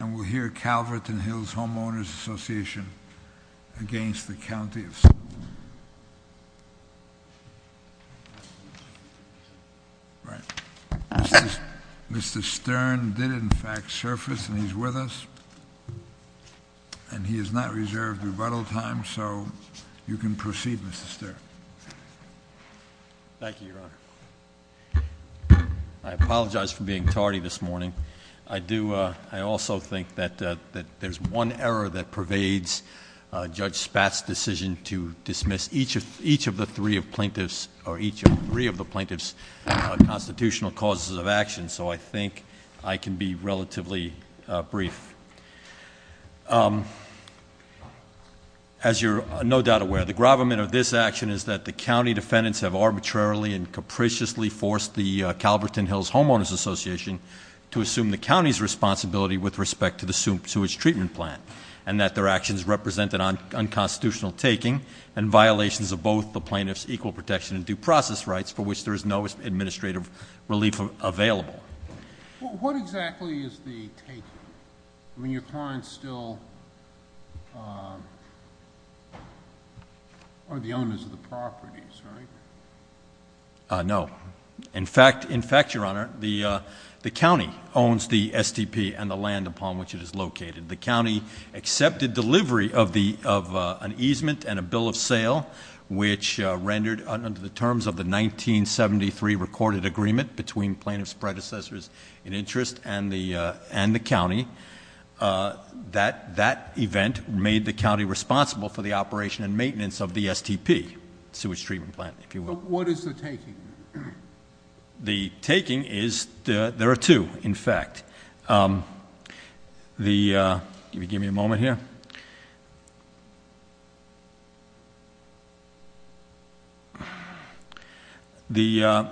And we'll hear Calverton Hills Homeowners Association against the County of Stern. Right. Mr. Stern did in fact surface and he's with us. And he has not reserved rebuttal time, so you can proceed, Mr. Stern. Thank you, Your Honor. I apologize for being tardy this morning. I also think that there's one error that pervades Judge Spatz' decision to dismiss each of the three of the plaintiff's constitutional causes of action. So I think I can be relatively brief. As you're no doubt aware, the gravamen of this action is that the county defendants have arbitrarily and over assume the county's responsibility with respect to its treatment plan. And that their actions represent an unconstitutional taking and violations of both the plaintiff's equal protection and due process rights for which there is no administrative relief available. What exactly is the taking? I mean, your clients still are the owners of the properties, right? No. In fact, Your Honor, the county owns the STP and the land upon which it is located. The county accepted delivery of an easement and a bill of sale, which rendered under the terms of the 1973 recorded agreement between plaintiff's predecessors in interest and the county. That event made the county responsible for the operation and maintenance of the STP, sewage treatment plant, if you will. What is the taking? The taking is, there are two, in fact. The, give me a moment here. The,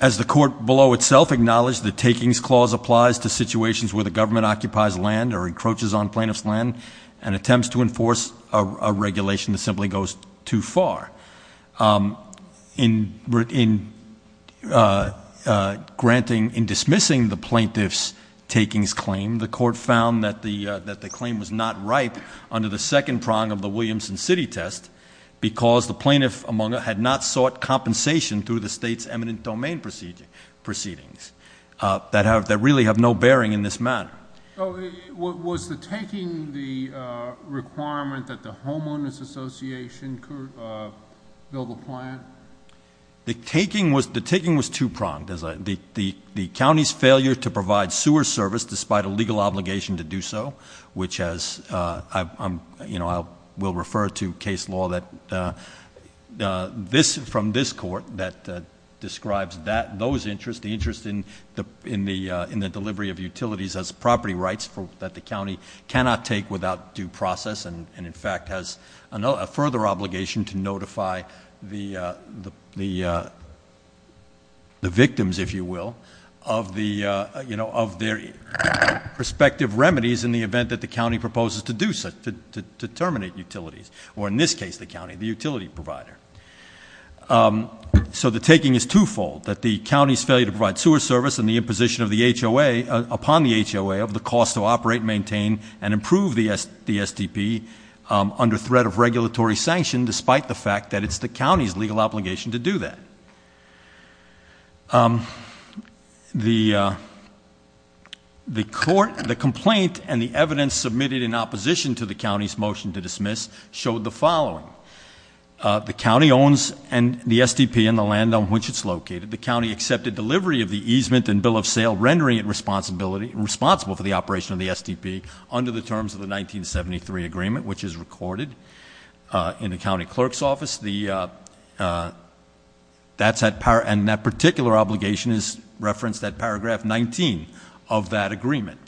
as the court below itself acknowledged the takings clause applies to situations where the government occupies land or encroaches on plaintiff's land and attempts to enforce a regulation that simply goes too far. In granting, in dismissing the plaintiff's takings claim the court found that the claim was not right. Under the second prong of the Williamson City Test, because the plaintiff among had not sought compensation through the state's eminent domain proceedings. That have, that really have no bearing in this matter. So, was the taking the requirement that the homeowner's association could build a plant? The taking was, the taking was two pronged as the county's failure to provide sewer service despite a legal obligation to do so. Which has, I will refer to case law that this, from this court, that describes that, those interests, the interest in the delivery of utilities as property rights for that the county cannot take without due process and in fact has a further obligation to notify the event that the county proposes to do so, to terminate utilities, or in this case, the county, the utility provider. So the taking is twofold, that the county's failure to provide sewer service and the imposition of the HOA, upon the HOA of the cost to operate, maintain, and improve the SDP under threat of regulatory sanction despite the fact that it's the county's legal obligation to do that. The court, the complaint, and the evidence submitted in opposition to the county's motion to dismiss, showed the following. The county owns the SDP and the land on which it's located. The county accepted delivery of the easement and bill of sale, rendering it responsible for the operation of the SDP under the terms of the 1973 agreement, which is recorded in the county clerk's office. And that particular obligation is referenced at paragraph 19 of that agreement.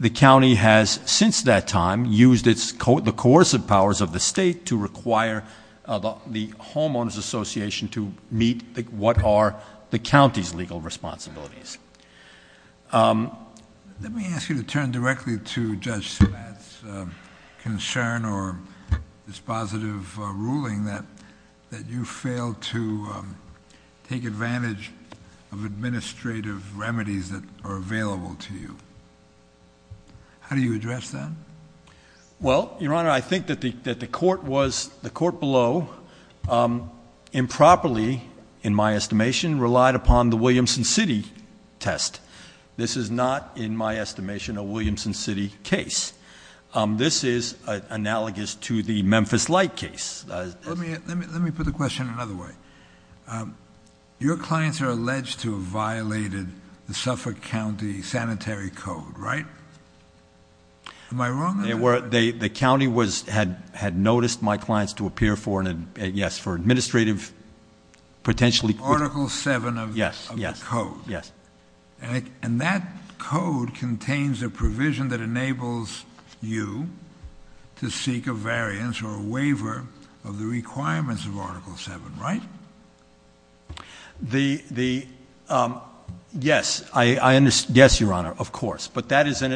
The county has, since that time, used the coercive powers of the state to require the Homeowners Association to meet what are the county's legal responsibilities. Let me ask you to turn directly to Judge Spatz' concern or this positive ruling that you failed to take advantage of administrative remedies that are available to you. How do you address that? Well, your honor, I think that the court below improperly, in my estimation, relied upon the Williamson City test. This is not, in my estimation, a Williamson City case. This is analogous to the Memphis Light case. Let me put the question another way. Your clients are alleged to have violated the Suffolk County Sanitary Code, right? Am I wrong? The county had noticed my clients to appear for an, yes, for administrative, potentially- Article seven of the code. Yes. And that code contains a provision that enables you to seek a variance or a waiver of the requirements of article seven, right? Yes, your honor, of course. But that is an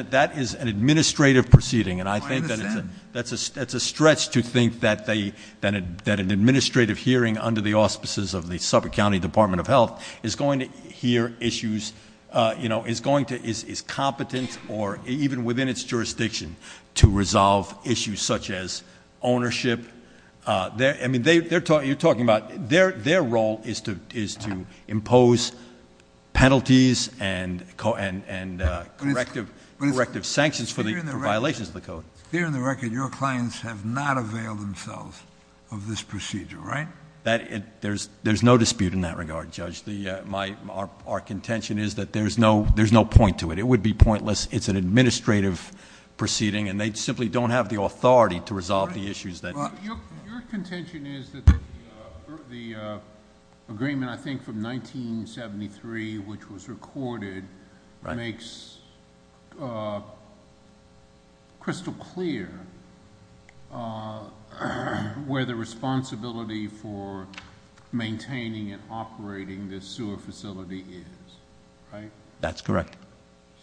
administrative proceeding. And I think that's a stretch to think that an administrative hearing under the auspices of the Suffolk County Department of Health is going to hear issues, is competent, or even within its jurisdiction, to resolve issues such as ownership. I mean, you're talking about, their role is to impose penalties and corrective sanctions for violations of the code. Here in the record, your clients have not availed themselves of this procedure, right? That, there's no dispute in that regard, Judge. Our contention is that there's no point to it. It would be pointless. It's an administrative proceeding, and they simply don't have the authority to resolve the issues that- Your contention is that the agreement, I think, from 1973, which was recorded, makes crystal clear where the responsibility for maintaining and operating this sewer facility is, right? That's correct.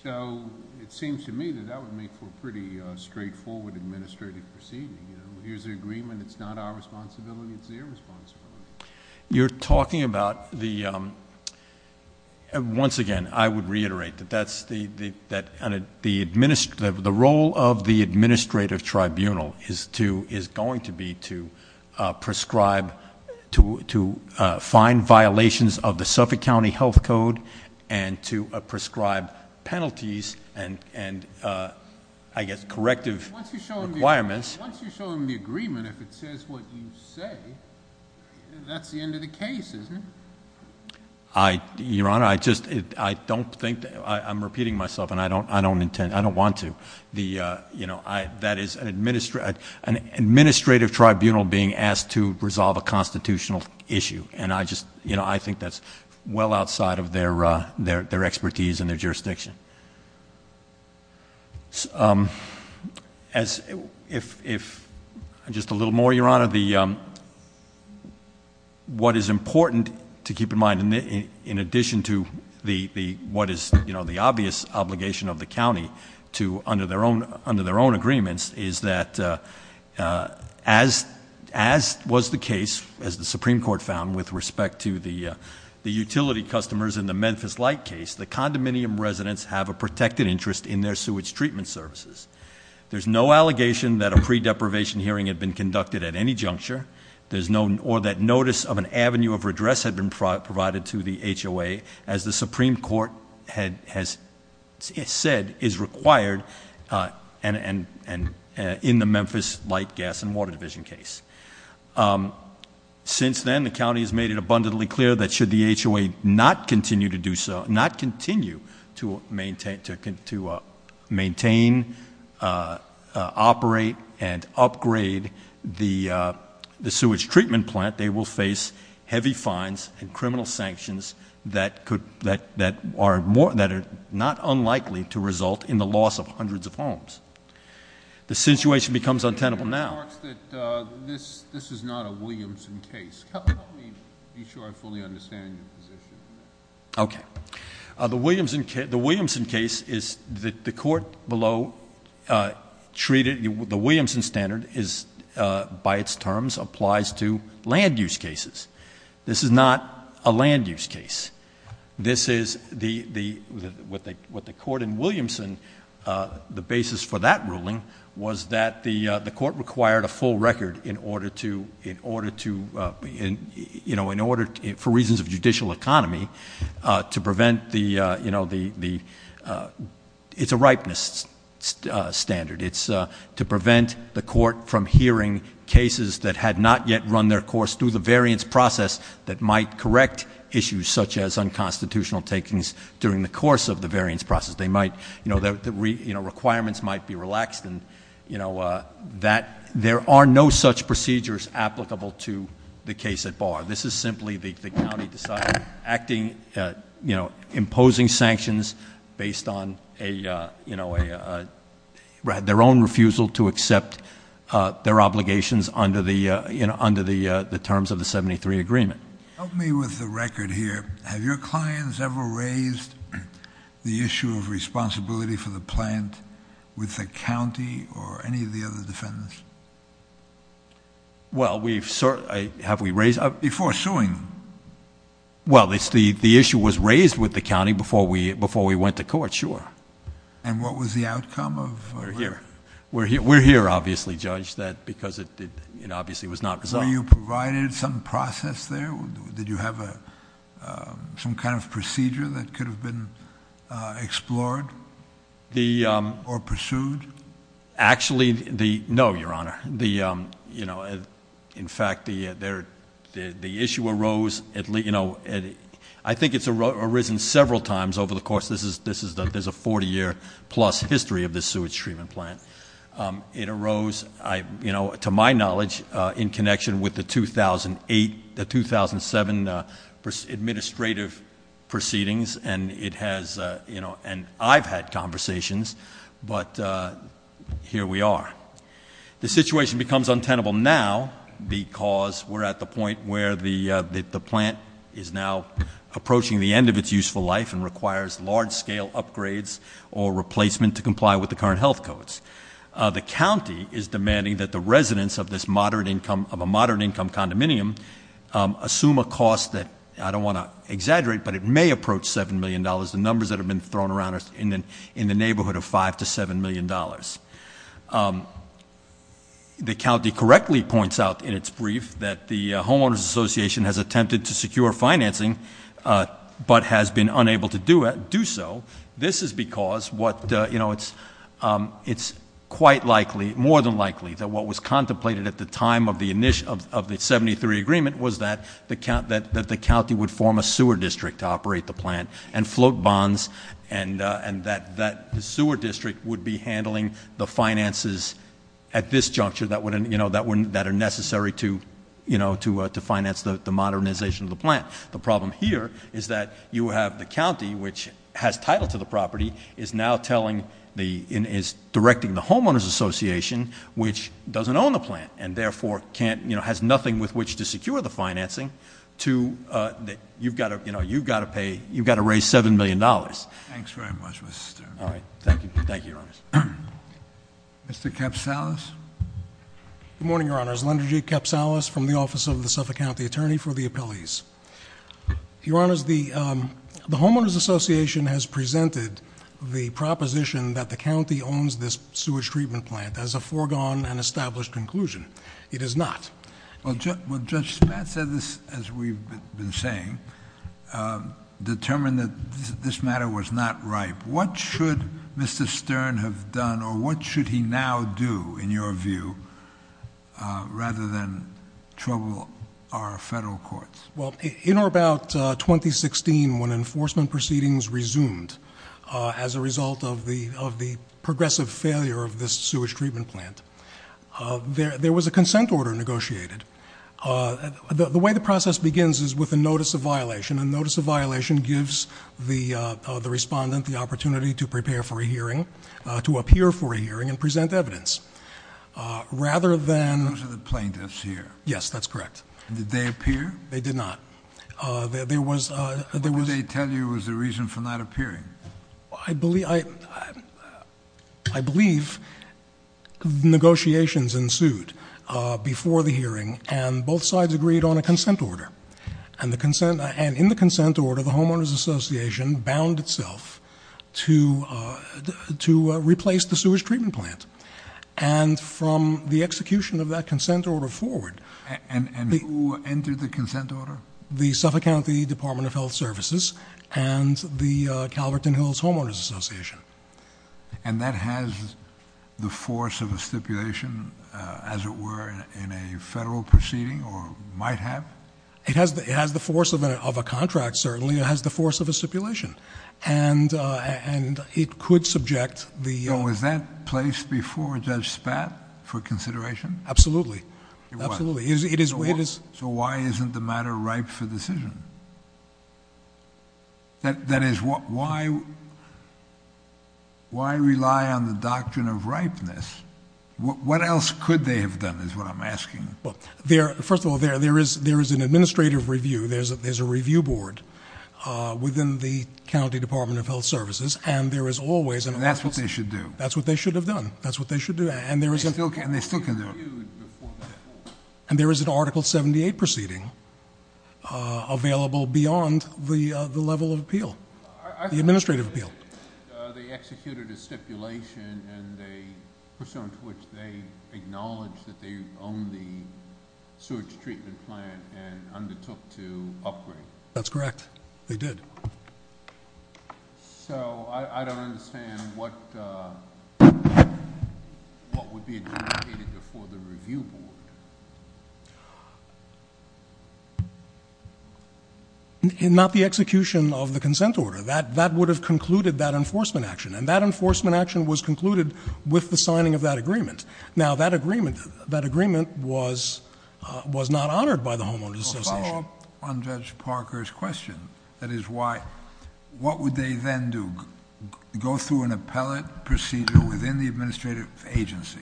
So, it seems to me that that would make for a pretty straightforward administrative proceeding. Here's the agreement, it's not our responsibility, it's their responsibility. You're talking about the, once again, I would reiterate that that's the, the role of the administrative tribunal is going to be to prescribe, to find violations of the Suffolk County Health Code, and to prescribe penalties and, I guess, corrective requirements. Once you show them the agreement, if it says what you say, that's the end of the case, isn't it? Your Honor, I just, I don't think, I'm repeating myself, and I don't intend, I don't want to. The, that is an administrative tribunal being asked to resolve a constitutional issue, and I just, I think that's well outside of their expertise and their jurisdiction. As, if, just a little more, Your Honor. The, what is important to keep in mind, in addition to the, what is the obvious obligation of the county to, under their own agreements, is that as was the case, as the Supreme Court found, with respect to the utility customers in the Memphis Light case, the condominium residents have a protected interest in their sewage treatment services. There's no allegation that a pre-deprivation hearing had been conducted at any juncture, there's no, or that notice of an avenue of redress had been provided to the HOA, as the Supreme Court had, has said, is required, and in the Memphis Light, Gas, and Water Division case. Since then, the county has made it abundantly clear that should the HOA not continue to do so, not continue to maintain, to maintain, operate, and upgrade the sewage treatment plant, they will face heavy fines and criminal sanctions that could, that are more, that are not unlikely to result in the loss of hundreds of homes. The situation becomes untenable now. The court remarks that this is not a Williamson case. Help me be sure I fully understand your position on that. Okay. The Williamson case is, the court below treated, the Williamson standard is, by its terms, applies to land use cases. This is not a land use case. This is the, what the court in Williamson, the basis for that ruling was that the court required a full record in order to, in order to, in order, for reasons of judicial economy, to prevent the, it's a ripeness standard. It's to prevent the court from hearing cases that had not yet run their course through the variance process that might correct issues such as unconstitutional takings during the course of the variance process. They might, the requirements might be relaxed. And that, there are no such procedures applicable to the case at bar. This is simply the county deciding, acting, imposing sanctions based on a, their own refusal to accept their obligations under the terms of the 73 agreement. Help me with the record here. Have your clients ever raised the issue of responsibility for the plant with the county or any of the other defendants? Well, we've certainly, have we raised- Before suing. Well, the issue was raised with the county before we went to court, sure. And what was the outcome of- We're here. We're here, obviously, judge, because it obviously was not resolved. Were you provided some process there? Did you have some kind of procedure that could have been explored? Or pursued? Actually, no, your honor. In fact, the issue arose, I think it's arisen several times over the course, there's a 40 year plus history of this sewage treatment plant. It arose, to my knowledge, in connection with the 2008, the 2007 administrative proceedings, and it has, and I've had conversations, but here we are. The situation becomes untenable now because we're at the point where the plant is now approaching the end of its useful life and requires large scale upgrades or the county is demanding that the residents of a moderate income condominium assume a cost that, I don't want to exaggerate, but it may approach $7 million. The numbers that have been thrown around are in the neighborhood of $5 to $7 million. The county correctly points out in its brief that the homeowners association has attempted to secure financing, but has been unable to do so. This is because what, it's quite likely, more than likely, that what was contemplated at the time of the 73 agreement was that the county would form a sewer district to operate the plant and float bonds. And that the sewer district would be handling the finances at this juncture that are necessary to finance the modernization of the plant. The problem here is that you have the county, which has title to the property, is now telling the, is directing the homeowner's association, which doesn't own the plant. And therefore, has nothing with which to secure the financing to, you've got to pay, you've got to raise $7 million. Thanks very much, Mr. Stern. All right, thank you, thank you, Your Honors. Mr. Capsalis. Good morning, Your Honors. Lenderjee Capsalis from the Office of the Suffolk County Attorney for the Appellees. Your Honors, the Homeowners Association has presented the proposition that the county owns this sewage treatment plant as a foregone and established conclusion. It is not. Well, Judge Spatz said this, as we've been saying, determined that this matter was not ripe. What should Mr. Stern have done, or what should he now do, in your view, rather than trouble our federal courts? Well, in or about 2016, when enforcement proceedings resumed as a result of the progressive failure of this sewage treatment plant, there was a consent order negotiated. The way the process begins is with a notice of violation. A notice of violation gives the respondent the opportunity to prepare for a hearing, to appear for a hearing, and present evidence. Rather than- Those are the plaintiffs here. Yes, that's correct. Did they appear? They did not. There was- What did they tell you was the reason for not appearing? I believe negotiations ensued before the hearing, and both sides agreed on a consent order. And in the consent order, the Homeowners Association bound itself to replace the sewage treatment plant. And from the execution of that consent order forward- And who entered the consent order? The Suffolk County Department of Health Services and the Calverton Hills Homeowners Association. And that has the force of a stipulation, as it were, in a federal proceeding, or might have? It has the force of a contract, certainly. It has the force of a stipulation. And it could subject the- So was that placed before Judge Spatz for consideration? Absolutely. It was. So why isn't the matter ripe for decision? That is, why rely on the doctrine of ripeness? What else could they have done, is what I'm asking? First of all, there is an administrative review. There's a review board within the County Department of Health Services, and there is always an- And that's what they should do. That's what they should have done. That's what they should do. And there is- And they still can do it. And there is an Article 78 proceeding available beyond the level of appeal, the administrative appeal. They executed a stipulation and they, pursuant to which, they acknowledged that they own the sewage treatment plant and undertook to upgrade. That's correct, they did. So I don't understand what would be adjudicated before the review board. Not the execution of the consent order. That would have concluded that enforcement action. And that enforcement action was concluded with the signing of that agreement. Now, that agreement was not honored by the homeowners association. Well, on Judge Parker's question, that is why, what would they then do? Go through an appellate procedure within the administrative agency,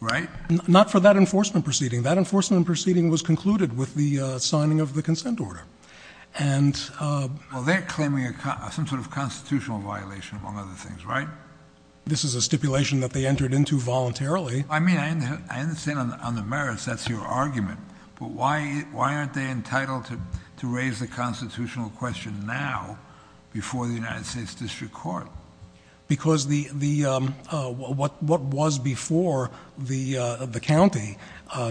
right? Not for that enforcement proceeding. That enforcement proceeding was concluded with the signing of the consent order. And- Well, they're claiming some sort of constitutional violation among other things, right? This is a stipulation that they entered into voluntarily. I mean, I understand on the merits, that's your argument. But why aren't they entitled to raise the constitutional question now before the United States District Court? Because what was before the county,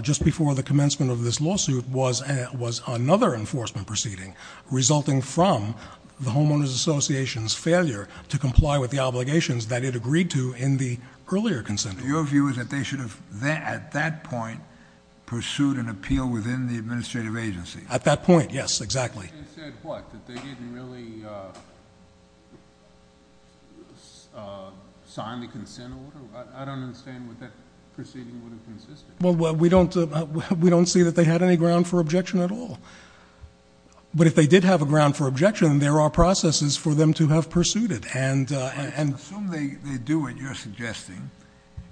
just before the commencement of this lawsuit, was another enforcement proceeding. Resulting from the homeowner's association's failure to comply with the obligations that it agreed to in the earlier consent order. So your view is that they should have, at that point, pursued an appeal within the administrative agency? At that point, yes, exactly. They said what? That they didn't really sign the consent order? I don't understand what that proceeding would have consisted of. Well, we don't see that they had any ground for objection at all. But if they did have a ground for objection, there are processes for them to have pursued it. And- Assume they do what you're suggesting,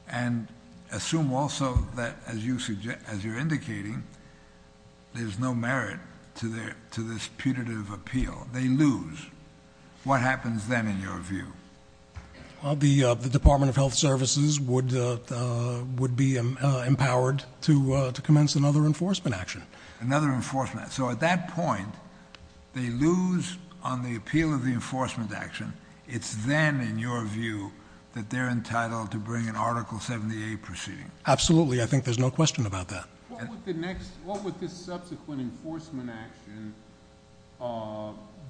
and assume also that, as you're indicating, there's no merit to this putative appeal. They lose. What happens then, in your view? The Department of Health Services would be empowered to commence another enforcement action. Another enforcement. So at that point, they lose on the appeal of the enforcement action. It's then, in your view, that they're entitled to bring an Article 78 proceeding. Absolutely, I think there's no question about that. What would the subsequent enforcement action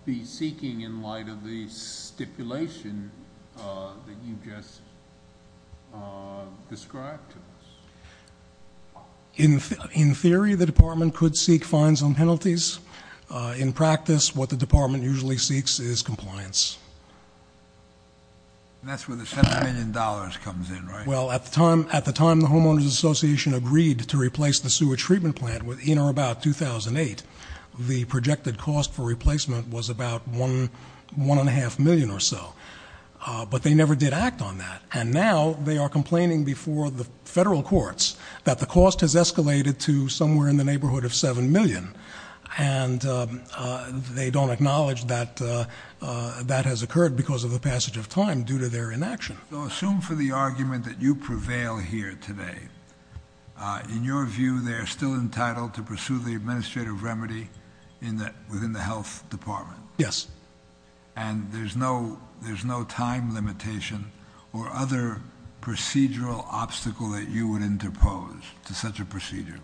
be seeking in light of the stipulation that you just described to us? In theory, the department could seek fines and penalties. In practice, what the department usually seeks is compliance. And that's where the $7 million comes in, right? Well, at the time the Homeowners Association agreed to replace the sewer treatment plant in or about 2008, the projected cost for replacement was about $1.5 million or so, but they never did act on that. And now, they are complaining before the federal courts that the cost has escalated to somewhere in the neighborhood of $7 million. And they don't acknowledge that that has occurred because of the passage of time due to their inaction. So assume for the argument that you prevail here today, in your view, they are still entitled to pursue the administrative remedy within the health department? Yes. And there's no time limitation or other procedural obstacle that you would interpose to such a procedure?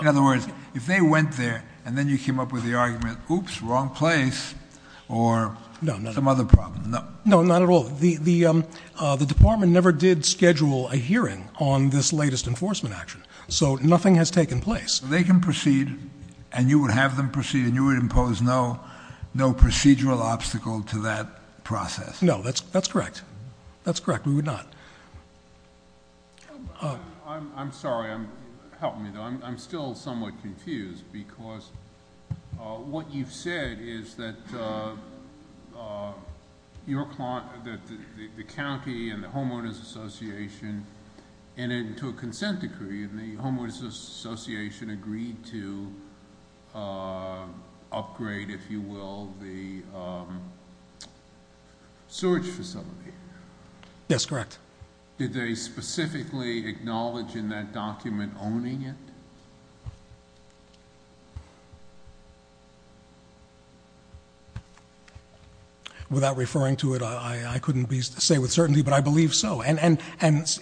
In other words, if they went there, and then you came up with the argument, oops, wrong place, or some other problem. No, not at all. The department never did schedule a hearing on this latest enforcement action. So nothing has taken place. They can proceed, and you would have them proceed, and you would impose no procedural obstacle to that process. No, that's correct. That's correct, we would not. I'm sorry, help me though. I'm still somewhat confused, because what you've said is that the county and the Homeowners Association entered into a consent decree, and the Homeowners Association agreed to upgrade, if you will, the sewage facility. Yes, correct. Did they specifically acknowledge in that document owning it? Without referring to it, I couldn't say with certainty, but I believe so. And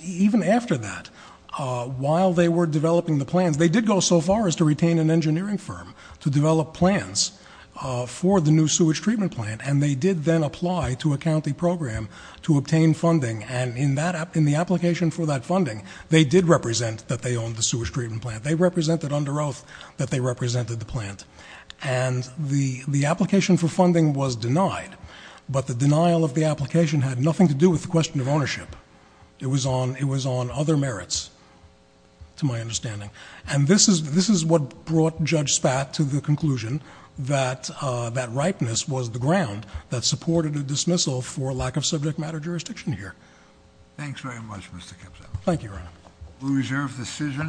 even after that, while they were developing the plans, they did go so far as to retain an engineering firm to develop plans for the new sewage treatment plant. And they did then apply to a county program to obtain funding. And in the application for that funding, they did represent that they owned the sewage treatment plant. They represented under oath that they represented the plant. And the application for funding was denied, but the denial of the application had nothing to do with the question of ownership. It was on other merits, to my understanding. And this is what brought Judge Spat to the conclusion that that ripeness was the ground that supported a dismissal for lack of subject matter jurisdiction here. Thanks very much, Mr. Kipson. Thank you, Your Honor. We reserve the decision.